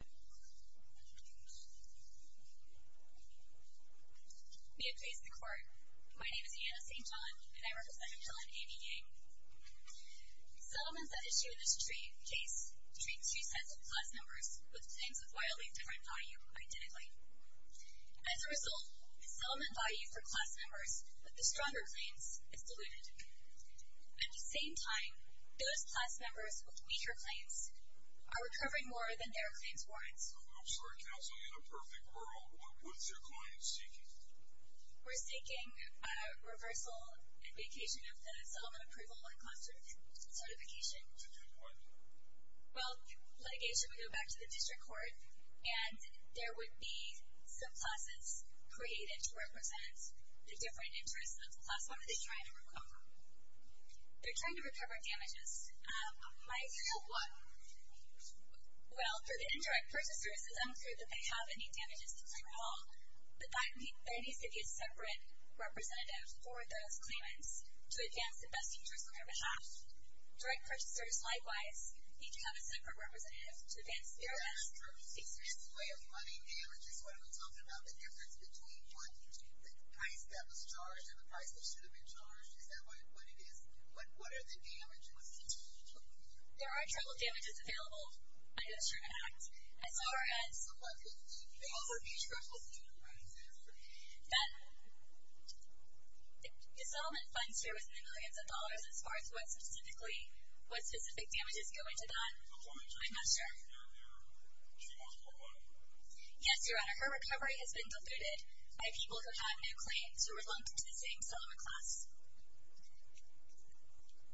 May it please the Court, my name is Ianna St. John and I represent a villain, Amy Yang. Settlements that issue this case treat two sets of class members with claims of wildly different value, identically. As a result, the settlement value for class members with the stronger claims is diluted. At the same time, those class members with weaker claims are recovering more than their claims warrant. I'm sorry counsel, in a perfect world, what's your client seeking? We're seeking a reversal and vacation of the settlement approval and class certification. And in what? Well, litigation would go back to the district court and there would be subclasses created to represent the different interests of the class. What are they trying to recover? They're trying to recover damages. How? What? Well, for the indirect purchasers, it's unclear that they have any damages to control, but there needs to be a separate representative for those claimants to advance the best interests of their behalf. Direct purchasers, likewise, need to have a separate representative to advance their best interests. Is there a specific way of finding damages when we're talking about the difference between what the price that was charged and the price that should have been charged? Is that what it is? What are the damages? What's the change in trouble? There are trouble damages available under the Sherman Act. As far as? Subclasses. They also need trouble damages. The settlement funds here within the millions of dollars as far as what specifically, what specific damages go into that? I'm not sure. Yes, Your Honor, her recovery has been diluted by people who have no claim to reluctant to the same settlement class.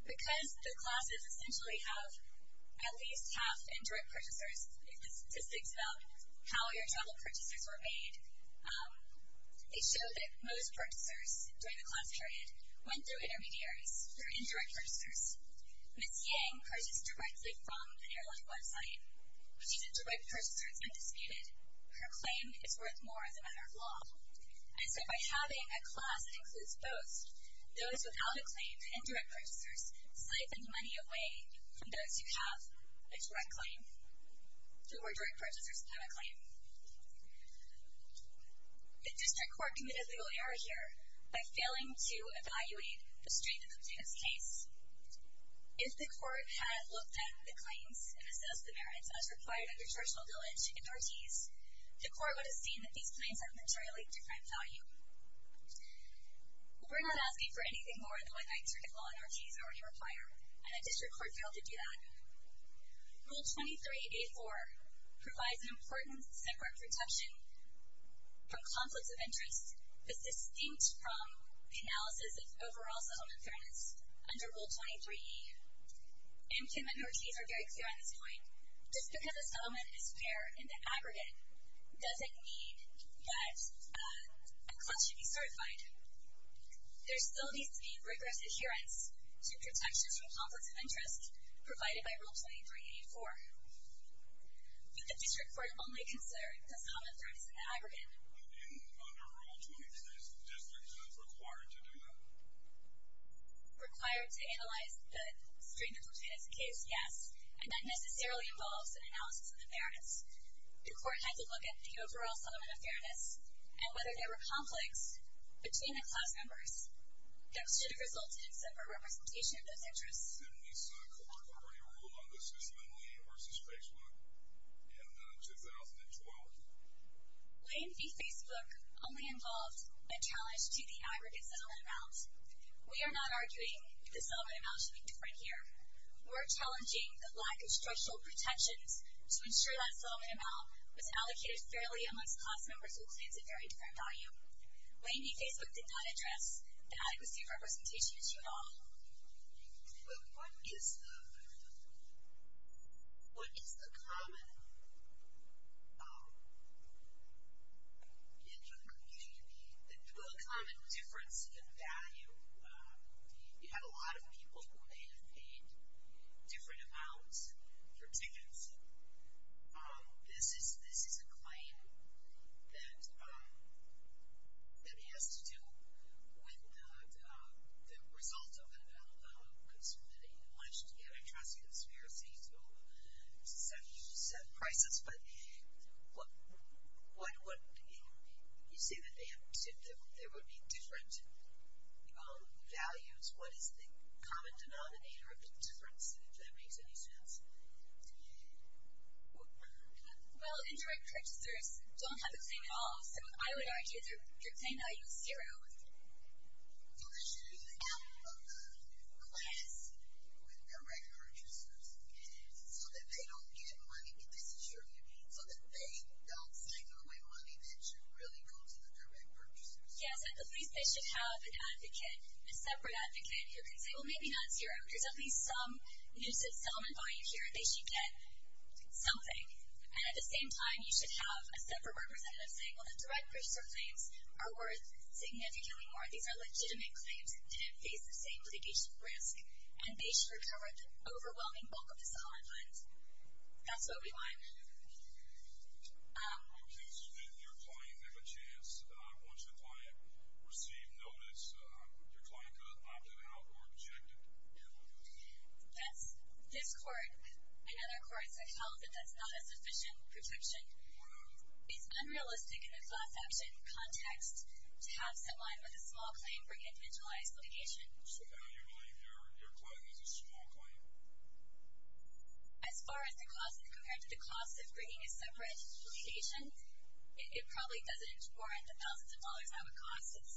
Because the classes essentially have at least half indirect purchasers, the statistics about how your total purchasers were made, they show that most purchasers during the class period went through intermediaries who are indirect purchasers. Ms. Yang purchases directly from the airline website. She's a direct purchaser, it's undisputed. Her claim is worth more as a matter of law. And so by having a class that includes both, those without a claim, the indirect purchasers, siphon money away from those who have a direct claim. Who are direct purchasers and have a claim. The district court committed a legal error here by failing to evaluate the strength of the plaintiff's case. If the court had looked at the claims and assessed the merits as required under traditional village in Ortiz, the court would have seen that these claims have materially different value. We're not asking for anything more than what I'd like to recall in Ortiz or what you require. And the district court failed to do that. Rule 23A4 provides an important separate protection from conflicts of interest. It's distinct from the analysis of overall settlement fairness. Under Rule 23E, M. Kim and Ortiz are very clear on this point. Just because a settlement is fair in the aggregate, doesn't mean that a clause should be certified. There still needs to be rigorous adherence to protections from conflicts of interest provided by Rule 23A4. But the district court only considered the settlement fairness in the aggregate. But even under Rule 23, the district is required to do that. Required to analyze the strength of the plaintiff's case, yes, and that necessarily involves an analysis of the fairness. The court had to look at the overall settlement of fairness and whether there were conflicts between the clause members. That should have resulted in a separate representation of those interests. And we saw corporate authority rule on this in Lee v. Facebook in 2012. Lee v. Facebook only involved a challenge to the aggregate settlement amount. We are not arguing the settlement amount should be different here. We're challenging the lack of structural protections to ensure that settlement amount was allocated fairly amongst clause members with claims of very different value. Lee v. Facebook did not address the adequacy of representation at all. But what is the common difference in value? You have a lot of people who may have paid different amounts for tickets. This is a claim that has to do with the result of an alleged antitrust conspiracy to set prices. But you say that there would be different values. What is the common denominator of the difference, if that makes any sense? Well, indirect purchasers don't have the claim at all. So I would argue that you're saying value is zero. So they should be in a class with direct purchasers so that they don't get money. But this is true. So that they don't sign away money that should really go to the direct purchasers. Yes. At least they should have an advocate, a separate advocate, who can say, well, maybe not zero. There's at least some use of settlement value here. They should get something. And at the same time, you should have a separate representative saying, well, the direct purchaser claims are worth significantly more. These are legitimate claims. They didn't face the same legacy risk. And they should recover the overwhelming bulk of the settlement funds. That's what we want. In case your client had a chance, once the client received notice, your client could have opted out or rejected. Yes. This court and other courts have held that that's not a sufficient protection. It's unrealistic in a class action context to have someone with a small claim bring a individualized litigation. So how do you believe your client has a small claim? As far as the cost is compared to the cost of bringing a separate litigation, it probably doesn't warrant the thousands of dollars that would cost this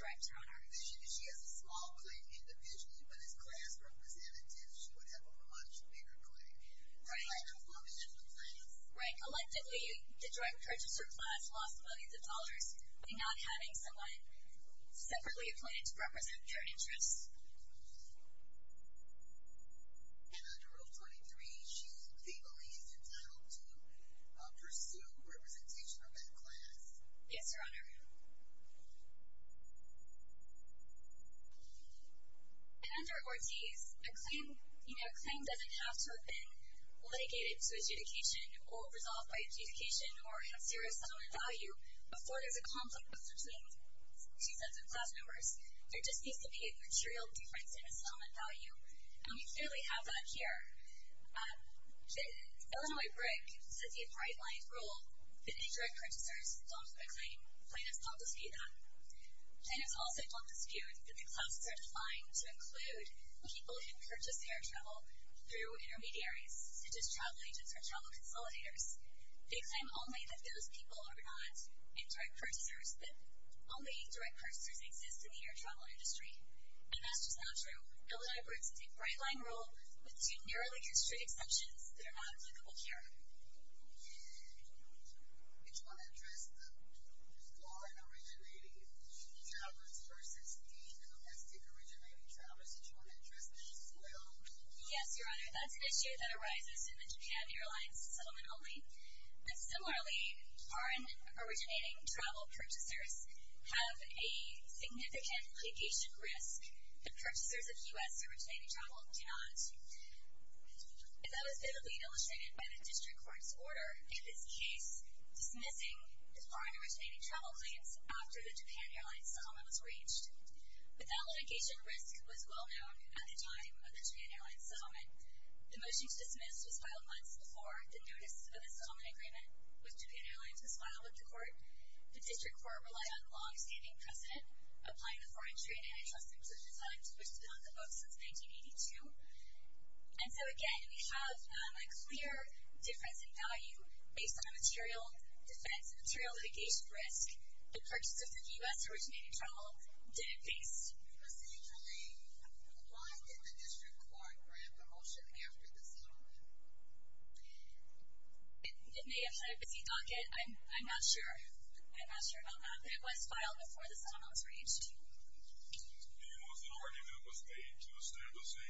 direct owner. Our vision is she has a small claim individually, but as class representative, she would have a much bigger claim. Right. And that's what we have in place. Right. Collectively, the direct purchaser class lost millions of dollars by not having someone separately appointed to represent their interests. And under Rule 23, she legally is entitled to pursue representation of that class. Yes, Your Honor. And under Ortiz, a claim doesn't have to have been litigated to adjudication or resolved by adjudication or have serious settlement value before there's a conflict between two sets of class numbers. There just needs to be a material difference in the settlement value, and we clearly have that here. Illinois Briggs has a bright line rule that indirect purchasers don't have a claim. The plaintiff's not disputed that. The plaintiff's also don't dispute that the classes are defined to include people who purchase air travel through intermediaries, such as travel agents or travel consolidators. They claim only that those people are not indirect purchasers, that only direct purchasers exist in the air travel industry. And that's just not true. Illinois Briggs has a bright line rule with two narrowly constricted exceptions that are not applicable here. And do you want to address the foreign originating travelers versus the domestic originating travelers? Do you want to address that as well? Yes, Your Honor. That's an issue that arises in the Japan Airlines settlement only. And similarly, foreign originating travel purchasers have a significant vacation risk. The purchasers of U.S. originating travel do not. And that was vividly illustrated by the district court's order in this case dismissing the foreign originating travel claims after the Japan Airlines settlement was reached. But that litigation risk was well known at the time of the Japan Airlines settlement. The motion to dismiss was filed months before the notice of the settlement agreement with Japan Airlines was filed with the court. The district court relied on longstanding precedent, applying the Foreign Trade and Antitrust Inclusion Act, which has been on the books since 1982. And so, again, we have a clear difference in value based on the material defense and material litigation risk that purchasers of U.S. originating travel didn't face. Did you procedurally comply with the district court grant promotion after the settlement? It may have been a busy docket. I'm not sure. I'm not sure about that. But it was filed before the settlement was reached. And it was an argument that was made to establish a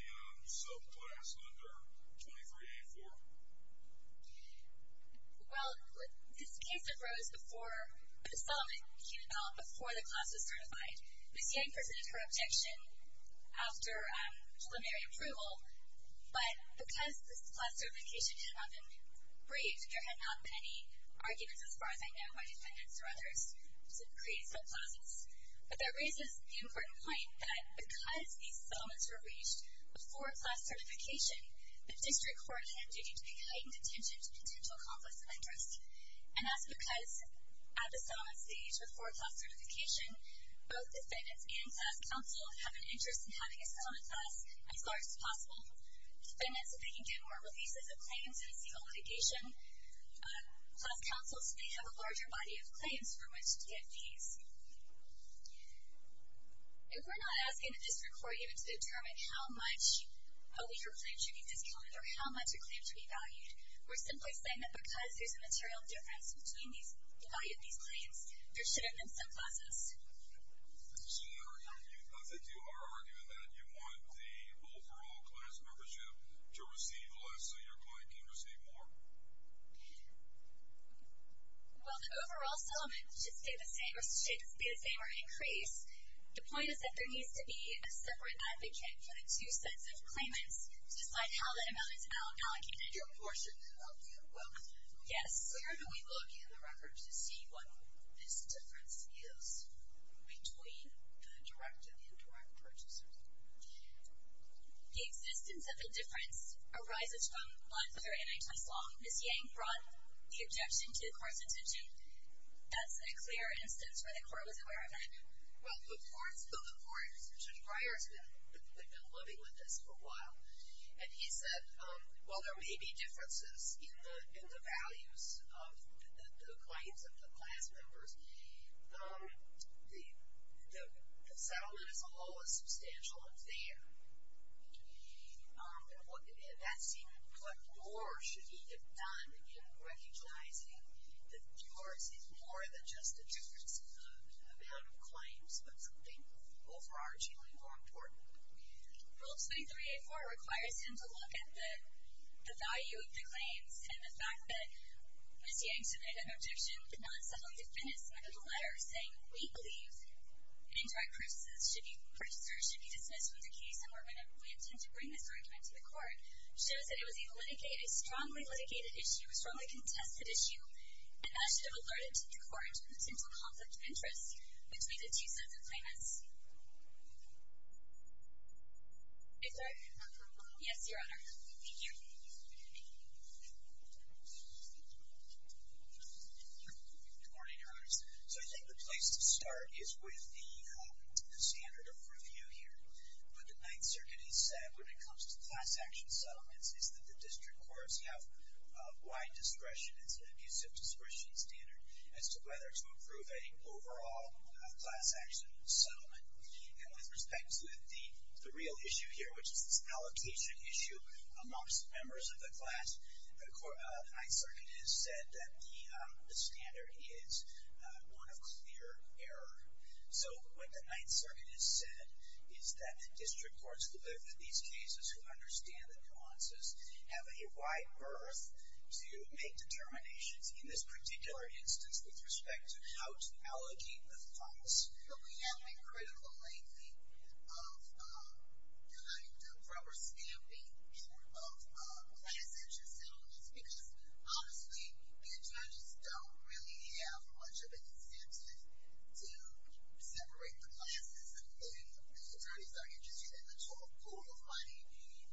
subclass under 23A4? Well, this case arose before the settlement came about, before the class was certified. Ms. Yang presented her objection after preliminary approval. But because this class certification had not been braved, there had not been any arguments, as far as I know, by defendants or others to create subclasses. But that raises the important point that because these settlements were reached before class certification, the district court had a duty to pay heightened attention to potential conflicts of interest. And that's because at the settlement stage, before class certification, both defendants and class counsel have an interest in having a settlement class as large as possible. Defendants, if they can get more releases of claims, have a single litigation. Class counsels may have a larger body of claims for which to get fees. If we're not asking the district court even to determine how much a legal claim should be discounted or how much a claim should be valued, we're simply saying that because there's a material difference between the value of these claims, there shouldn't have been subclasses. So they do argue that you want the overall class membership to receive less so your client can receive more? Well, the overall settlement should stay the same or increase. The point is that there needs to be a separate advocate for the two sets of claimants to decide how that amount is allocated to a portion of you. Yes. So how do we look in the records to see what this difference is between the direct and indirect purchasers? The existence of a difference arises from life other than nine times long. Ms. Yang brought the objection to the court's decision. That's a clear instance where the court was aware of it. Well, the court's decision prior to that. We've been living with this for a while. And he said, well, there may be differences in the values of the claims of the class members. The settlement as a whole is substantial and fair. And that's what more should be done in recognizing that yours is more than just a difference in the amount of claims but something overargingly more important. Rule 23A.4 requires him to look at the value of the claims and the fact that Ms. Yang submitted an objection but not subtly definished it with a letter saying, we believe indirect purchasers should be dismissed from the case and we intend to bring this argument to the court shows that it was a strongly litigated issue, a strongly contested issue, and that should have alerted the court to the potential conflict of interest between the two sets of claimants. Is there a motion? Yes, Your Honor. Thank you. Good morning, Your Honors. So I think the place to start is with the standard of review here. What the Ninth Circuit has said when it comes to class action settlements is that the district courts have wide discretion. It's an abusive discretion standard as to whether to approve an overall class action settlement. And with respect to the real issue here, which is this allocation issue amongst members of the class, the Ninth Circuit has said that the standard is one of clear error. So what the Ninth Circuit has said is that district courts who look at these cases, who understand the nuances, have a wide berth to make determinations in this particular instance with respect to how to allocate the funds that we have been critical lately of providing the proper stamping of class action settlements because, honestly, attorneys don't really have much of an incentive to separate the classes and the attorneys aren't interested in the 12th pool of money,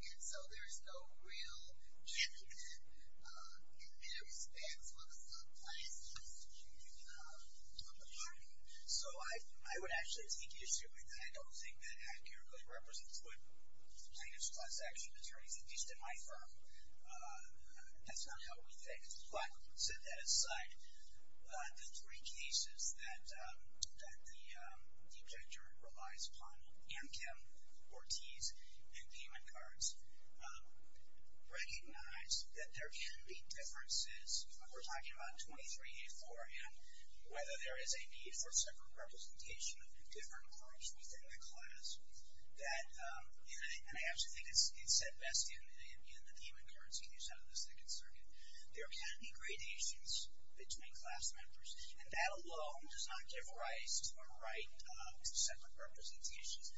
and so there's no real method in that respect. So what does that place us to do in terms of bargaining? So I would actually take you assuming that I don't think that accurately represents what plaintiff's class action attorneys at least in my firm. That's not how we think. But, set that aside, the three cases that the objector relies upon, Amchem, Ortiz, and payment cards, recognize that there can be differences. We're talking about 2384 and whether there is a need for separate representation of different cards within the class. And I absolutely think it's said best in the payment cards you use out of the Second Circuit. There can be gradations between class members, and that alone does not give rise to a right to separate representations.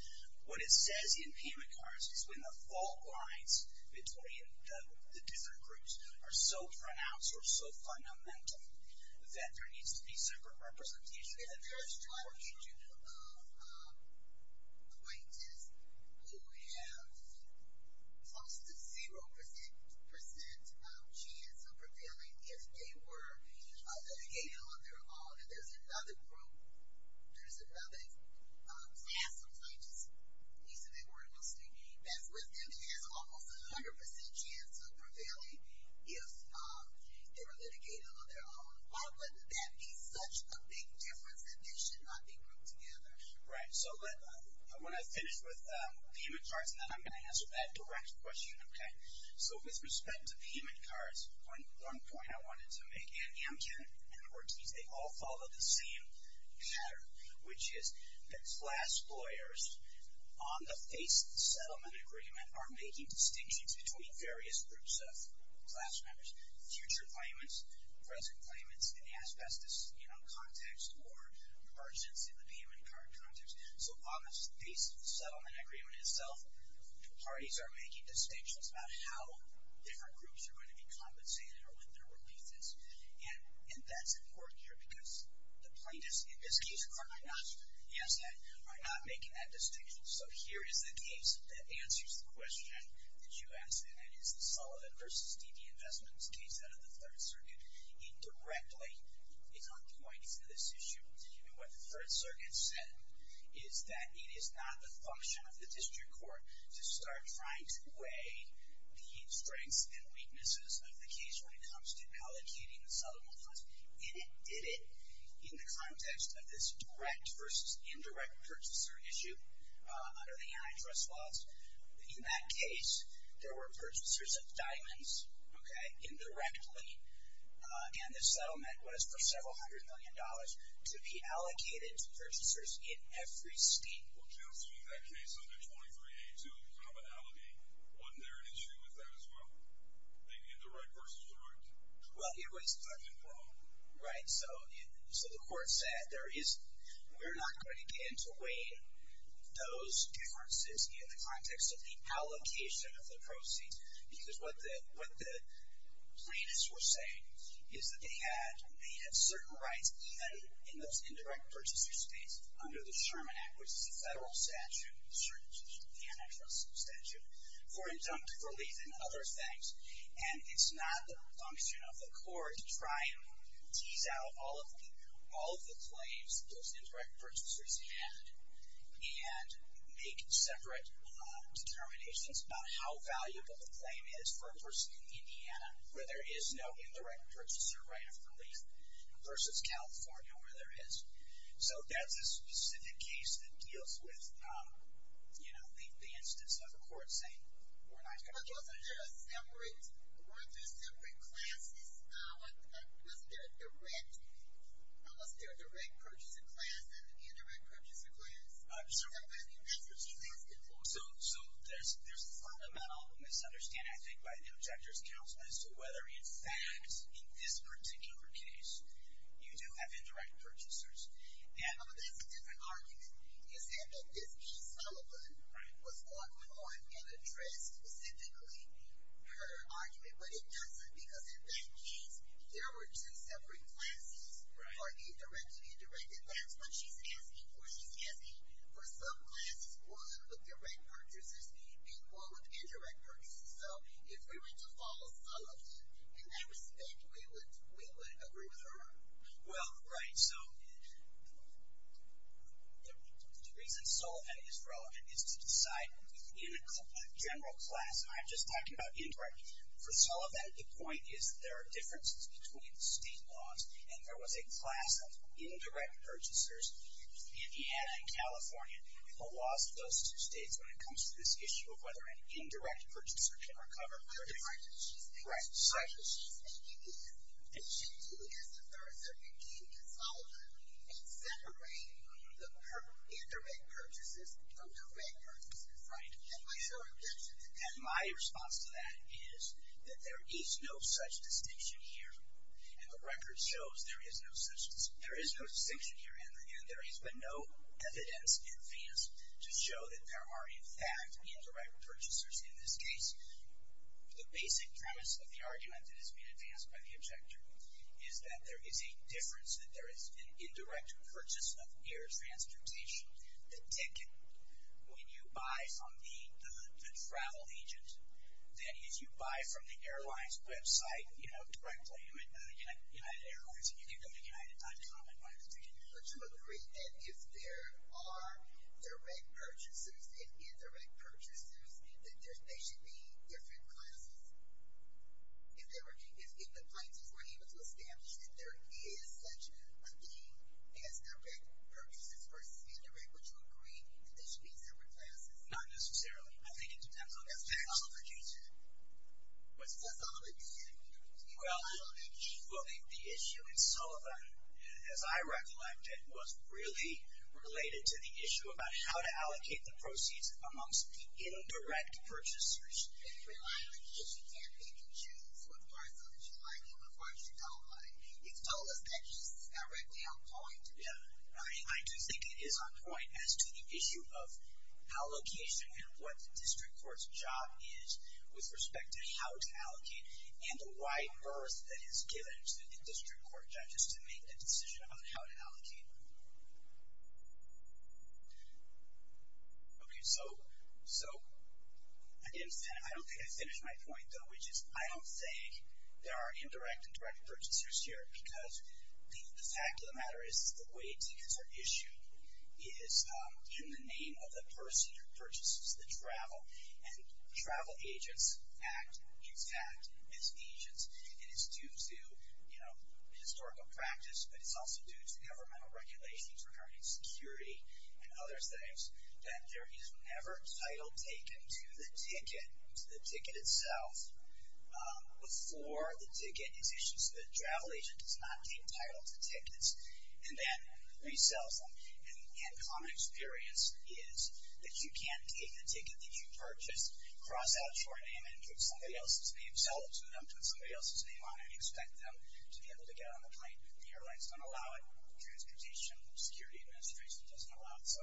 What it says in payment cards is when the fault lines between the different groups are so pronounced or so fundamental that there needs to be separate representation. There's a very strong opinion of plaintiffs who have lost a 0% chance of appealing if they were litigated on their own. If there's another group, there's another class of plaintiffs, at least if they were in the state, that's with them that has almost a 100% chance of prevailing if they were litigated on their own. Why wouldn't that be such a big difference that they should not be grouped together? Right, so when I finish with payment cards, then I'm going to answer that direct question, okay? So with respect to payment cards, one point I wanted to make, and Amgen and Ortiz, they all follow the same pattern, which is that class lawyers, on the face of the settlement agreement, are making distinctions between various groups of class members, future claimants, present claimants, in the asbestos context or, for instance, in the payment card context. So on the face of the settlement agreement itself, parties are making distinctions about how different groups are going to be compensated or what their relief is. And that's important here because the plaintiffs, in this case, are not making that distinction. So here is the case that answers the question that you asked, and that is the Sullivan v. Stevey Investments case out of the Third Circuit. Indirectly, it's not pointing to this issue. And what the Third Circuit said is that it is not the function of the district court to start trying to weigh the strengths and weaknesses of the case when it comes to allocating the settlement funds. It did it in the context of this direct versus indirect purchaser issue under the antitrust laws. In that case, there were purchasers of diamonds, okay, indirectly, and the settlement was for several hundred million dollars to be allocated to purchasers in every state. Well, counseling that case under 23-A-2, there's a commonality. Wasn't there an issue with that as well? Maybe indirect versus direct. Well, it was indirect. Right? So the court said, we're not going to begin to weigh those differences in the context of the allocation of the proceeds because what the plaintiffs were saying is that they had certain rights, even in those indirect purchaser states, under the Sherman Act, which is a federal statute, the Sherman Act is an antitrust statute, for injunctive relief and other things. And it's not the function of the court to try and tease out all of the claims those indirect purchasers had and make separate determinations about how valuable the claim is for a person in Indiana where there is no indirect purchaser right of relief versus California where there is. So that's a specific case that deals with, you know, I think the instance of a court saying, we're not going to do this. Weren't there separate classes? Was there a direct purchaser class So there's fundamental misunderstanding, I think, by the objector's counsel as to whether, in fact, in this particular case, you do have indirect purchasers. Yeah, but that's a different argument. You said that this case, Sullivan, was going on an address specifically for her argument. But it wasn't because in that case, there were two separate classes for the direct and indirect. And that's what she's asking for. She's asking for subclasses, one with direct purchasers and one with indirect purchasers. So if we were to follow Sullivan in that respect, we would agree with her. Well, right. So the reason Sullivan is wrong is to decide in a general class. I'm just talking about indirect. For Sullivan, the point is that there are differences between state laws. And there was a class of indirect purchasers in Indiana and California. People lost those two states when it comes to this issue of whether an indirect purchaser can recover their direct purchases. Right. And she is the third. So you can't follow her and separate the indirect purchases from direct purchases. Right. And my response to that is that there is no such distinction here. And the record shows there is no distinction here. And again, there has been no evidence in advance to show that there are, in fact, indirect purchasers in this case. The basic premise of the argument that has been advanced by the objector is that there is a difference, that there is an indirect purchase of air transportation. The ticket, when you buy from the travel agent, that is, you buy from the airline's website directly, United Airlines. And you can go to united.com and buy the ticket. I totally agree. And if there are direct purchasers and indirect purchasers, then they should be different classes. If the plaintiffs were able to establish that there is such a thing as direct purchases versus indirect, would you agree that they should be different classes? Not necessarily. I think it depends on the actual producer. That's all I'm saying. Well, I don't think the issue in Sullivan, as I recollected, was really related to the issue about how to allocate the proceeds amongst indirect purchasers. It really is. You can't really choose what part of it you like and what part you don't like. It's all as much as it's directly on point. Yeah. I do think it is on point as to the issue of allocation and what the district court's job is with respect to how to allocate and the wide berth that is given to the district court judges to make a decision about how to allocate. OK, so I don't think I finished my point, though, which is I don't think there are indirect and direct purchasers here because the fact of the matter is the way tickets are issued is in the name of the person who purchases the travel. And travel agents act exact as agents. And it's due to historical practice, but it's also due to governmental regulations regarding security and other things that there is never title taken to the ticket itself before the ticket is issued. So the travel agent does not gain title to tickets and then resells them. And common experience is that you can't take the ticket that you purchased, cross out your name, and give somebody else's name, sell it to them, put somebody else's name on it, and expect them to be able to get on the plane. The airlines don't allow it. Transportation Security Administration doesn't allow it. So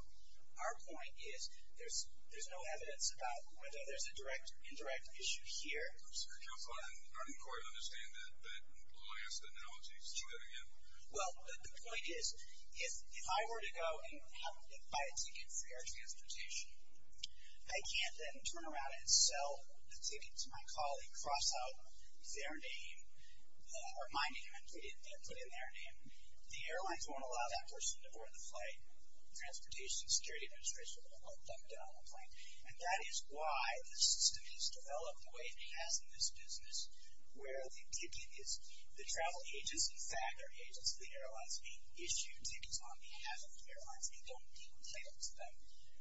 our point is there's no evidence about whether there's a direct or indirect issue here. I'm sorry, counsel, I don't quite understand that last analogy. Say that again. Well, the point is if I were to go and buy a ticket for air transportation, I can't then turn around and sell the ticket to my colleague, cross out their name, or my name. I didn't put in their name. The airlines won't allow that person to board the flight. Transportation Security Administration won't let them get on the plane. And that is why the system has developed the way it has in this business, where the ticket is the travel agency. In fact, they're agents of the airlines. They issue tickets on behalf of the airlines. They don't give title to them.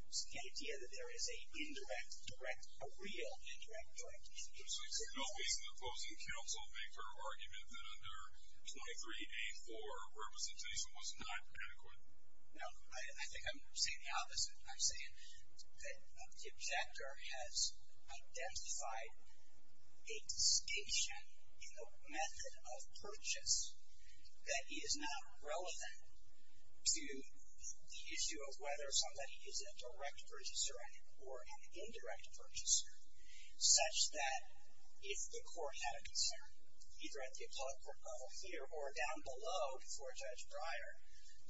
It's the idea that there is a real indirect direct and indirect direct. So you're not making the opposing counsel make her argument that under 23A4 representation was not adequate? No, I think I'm saying the opposite. I'm saying that the objector has identified a distinction in the method of purchase that is not relevant to the issue of whether somebody is a direct purchaser or an indirect purchaser, such that if the court had a concern, either at the appellate court level here or down below before Judge Breyer,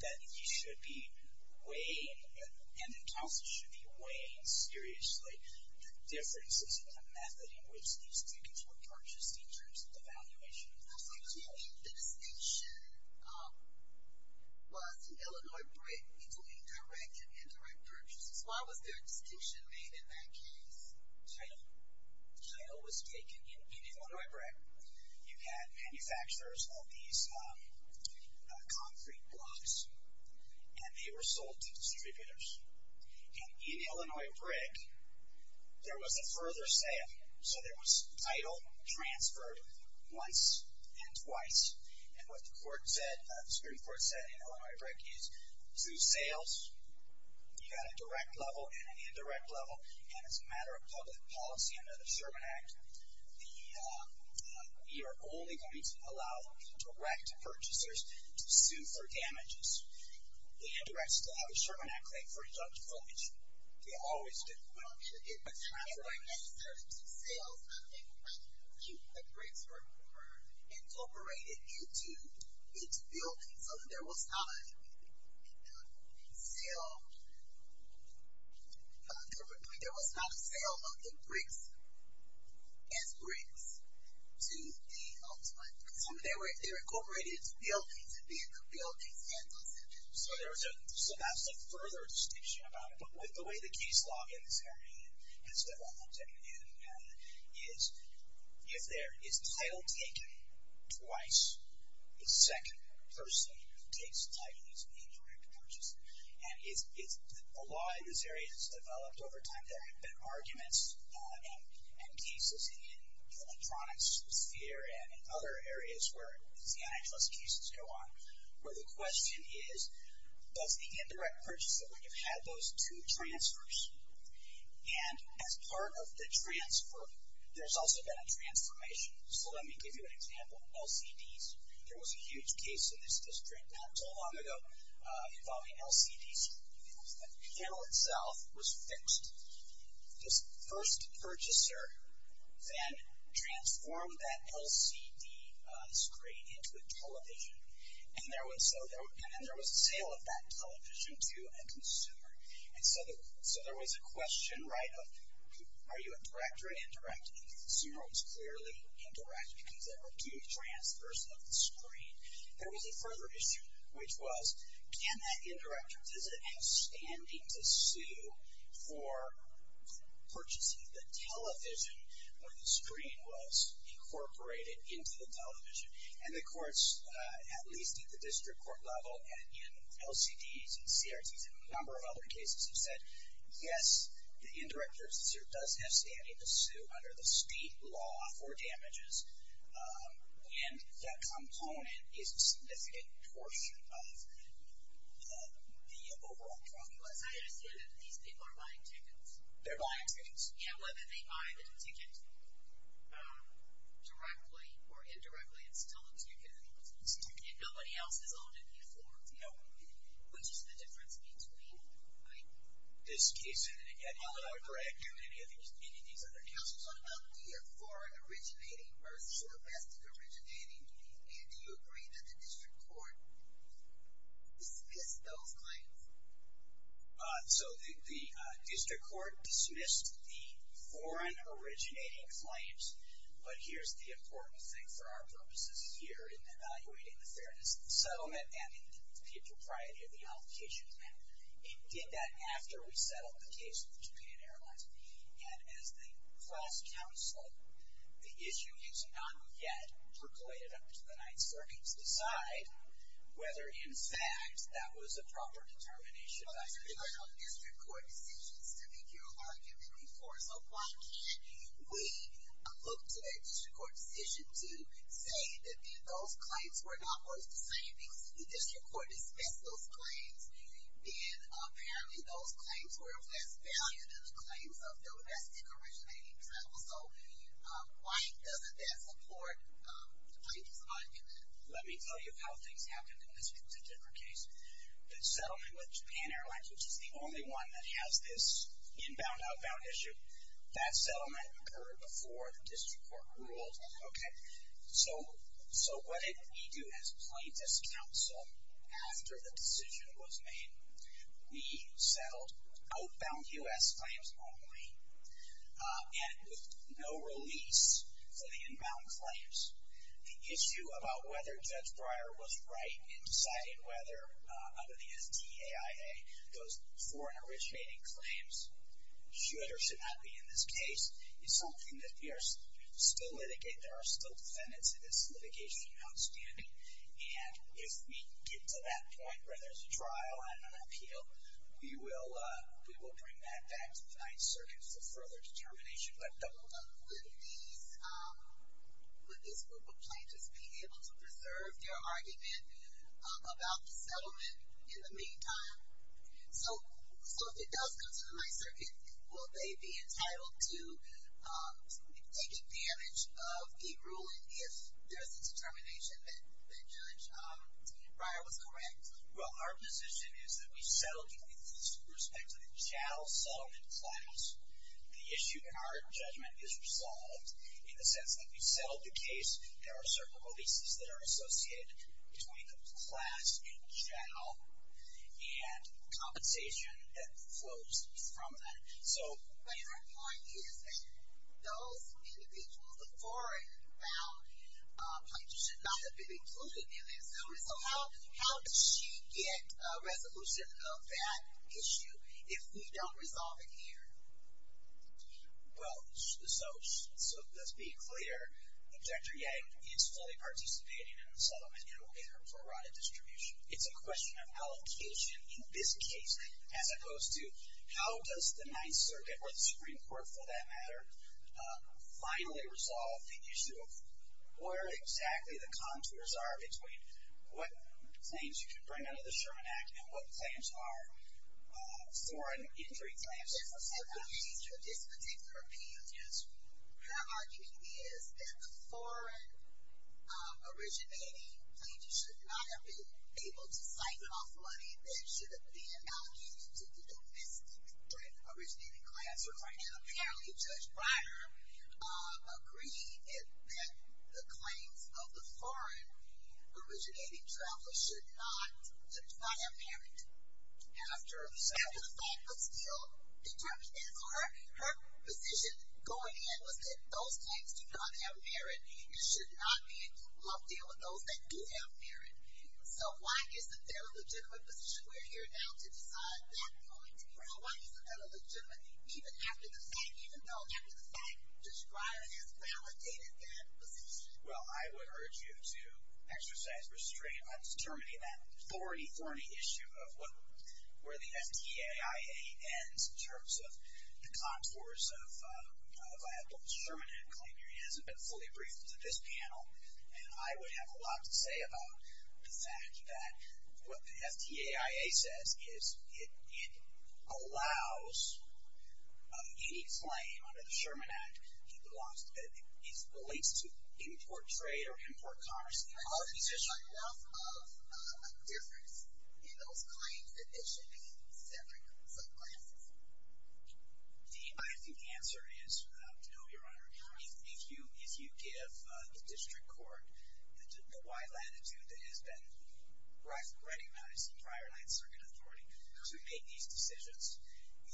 that he should be weighing, and the counsel should be weighing seriously, the differences in the method in which these tickets were purchased in terms of the valuation. I think the only distinction was the Illinois break between direct and indirect purchases. Why was there a distinction made in that case? Title was taken in Illinois break. You had manufacturers of these concrete blocks, and they were sold to distributors. And in Illinois break, there was a further sale. So there was title transferred once and twice. And what the Supreme Court said in Illinois break is through sales, you got a direct level and an indirect level. And as a matter of public policy under the Sherman Act, we are only going to allow direct purchasers to sue for damages. The indirects still have a Sherman Act claim for deductible damage. They always do. Well, it transferred necessarily to sales. I think that the bricks were incorporated into its building, so that there was not a sale of the bricks as bricks to the ultimate consumer. They were incorporated into the building to be able to build these handles. So that's a further distinction about it. But with the way the case law in this area has developed and you have it, if there is an indirect purchase. And the law in this area has developed over time. There have been arguments and cases in the electronics sphere and in other areas where the antitrust cases go on, where the question is, does the indirect purchase that we have had those two transfers? And as part of the transfer, there's also been a transformation. So let me give you an example. LCDs. There was a huge case in this district not too long ago involving LCDs. The panel itself was fixed. This first purchaser then transformed that LCD screen into a television. And there was a sale of that television to a consumer. So there was a question of, are you a direct or an indirect? And the consumer was clearly indirect because there were two transfers of the screen. There was a further issue, which was, can that indirector, does it have standing to sue for purchasing the television where the screen was incorporated into the television? And the courts, at least at the district court level and in LCDs and CRTs and a number of other cases, have said, yes, the indirector does have standing to sue under the state law for damages. And that component is a significant portion of the overall profit. I understand that these people are buying tickets. They're buying tickets. Yeah, well, if they buy the tickets, you can't directly or indirectly install them. So you can install them. And nobody else has already been informed. No. Which is the difference between this case and any other. Greg, do any of these other cases on LD or foreign originating murders or domestic originating? And do you agree that the district court dismissed those claims? So the district court dismissed the foreign originating claims. But here's the important thing for our purposes here in evaluating the fairness of the settlement and the propriety of the application. And did that after we settled the case with the Japan Airlines. And as the class counsel, the issue is not yet percolated up to the Ninth Circuit to decide whether, in fact, that was a proper determination. I've heard about district court decisions to make your argument before. So why can't we look to a district court decision The district court dismissed those claims. And apparently those claims were of less value than the claims of domestic originating travel. So why doesn't that support Heidi's argument? Let me tell you how things happened in this particular case. The settlement with Japan Airlines, which is the only one that has this inbound-outbound issue, that settlement occurred before the district court ruled. So what did we do as plaintiffs' counsel after the decision was made? We settled outbound US claims only, and with no release for the inbound claims. The issue about whether Judge Breyer was right in deciding whether, under the STAIA, those foreign originating claims should or should not be in this case is something that we are still litigating. There are still defendants in this litigation outstanding. And if we get to that point where there's a trial and an appeal, we will bring that back to the Ninth Circuit for further determination. But double-double. Would this group of plaintiffs be able to preserve their argument about the settlement in the meantime? So if it does come to the Ninth Circuit, will they be entitled to take advantage of the ruling if there's a determination that Judge Breyer was correct? Well, our position is that we settled the case with respect to the Chow-Sullivan class. The issue in our judgment is resolved in the sense that we settled the case. There are certain releases that are associated between the class and Chow, and compensation that flows from that. So my point is that those individuals, the foreign-bound plaintiffs should not have been included in the settlement. So how does she get a resolution of that issue if we don't resolve it here? Well, so let's be clear. Objector Yank is fully participating in the settlement in terms of erratic distribution. It's a question of allocation in this case, as opposed to how does the Ninth Circuit, or the Supreme Court for that matter, finally resolve the issue of where exactly the contours are between what claims you can bring under the Sherman Act and what claims are foreign-entry claims. There's a simple answer to this particular appeal. Our argument is that the foreign-originating plaintiffs should not have been able to siphon off money. That should have been allocated to the domestic originating class. But right now, apparently, Judge Breyer agreed that the claims of the foreign-originating travelers should not have merit. And after the fact was filled, her position going in was that those claims do not have merit. It should not be a deal with those that do have merit. So why isn't there a legitimate position? We're here now to decide that point. So why isn't there a legitimacy, even after the fact, even though after the fact, Judge Breyer has validated that position? Well, I would urge you to exercise restraint on determining that thorny, thorny issue of where the FDAIA ends in terms of the contours of a viable Sherman Act claim. It hasn't been fully briefed to this panel. And I would have a lot to say about the fact that what the FDAIA says is it allows of any claim under the Sherman Act, he believes to import trade or import commerce. Are these issues enough of a difference in those claims that they should be separate from subclasses? The answer is no, Your Honor. If you give the district court the wide latitude that has been readied by some prior line circuit authority to make these decisions,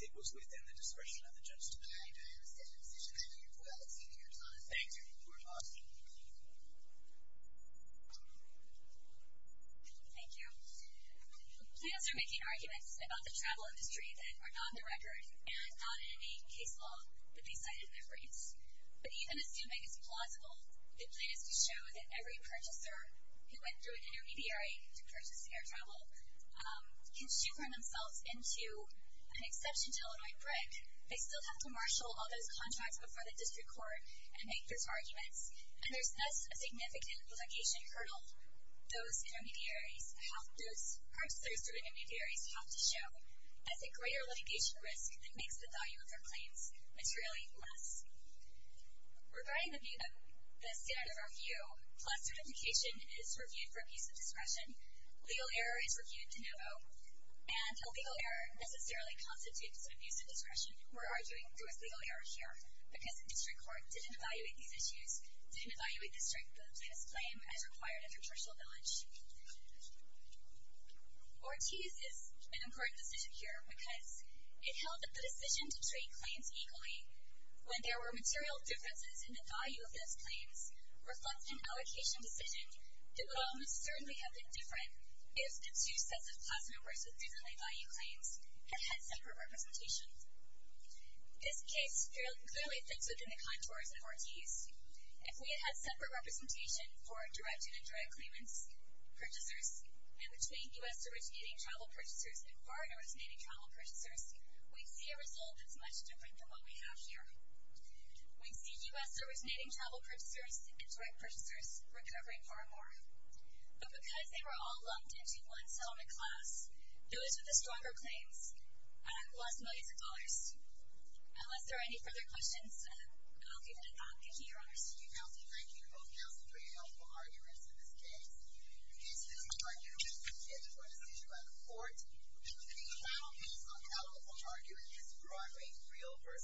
it was within the discretion of the judge to do that. I understand the position. Thank you, Your Honor. Thank you, Your Honor. Thank you, Your Honor. Thank you. Plaintiffs are making arguments about the travel industry that are not on the record and not in any case law that they cited in their briefs. But even assuming it's plausible, the plaintiffs do show that every purchaser who went through an intermediary to purchase air travel can sugar themselves into an exception to Illinois brick. They still have to marshal all those contracts before the district court and make those arguments. And there's less of a significant litigation hurdle those intermediaries, those purchasers through intermediaries have to show as a greater litigation risk that makes the value of their claims materially less. Regarding the standard of review, class certification is reviewed for abuse of discretion. Legal error is reviewed to no vote. And a legal error necessarily constitutes an abuse of discretion. We're arguing there was legal error here because the district court didn't evaluate these issues, didn't evaluate the strength of the plaintiff's claim as required of the judicial knowledge. Ortiz is an important decision here because it held that the decision to trade claims equally when there were material differences in the value of those claims reflects an allocation decision that would almost certainly have been different if the two sets of class numbers with differently valued claims had had separate representations. This case clearly fits within the contours of Ortiz. If we had had separate representation for direct and indirect claimants, purchasers, and between U.S. originating travel purchasers and foreign originating travel purchasers, we'd see a result that's much different than what we have here. We'd see U.S. originating travel purchasers and direct purchasers recovering far more. But because they were all lumped into one settlement class, those with the stronger claims lost millions of dollars. Unless there are any further questions, I'll leave it at that. Thank you. Thank you. Those were pretty helpful arguments in this case. This case is now adjourned. It was a decision by the court. We will hear the final case on the outcome of the argument in this Broadway Real vs. Seaside.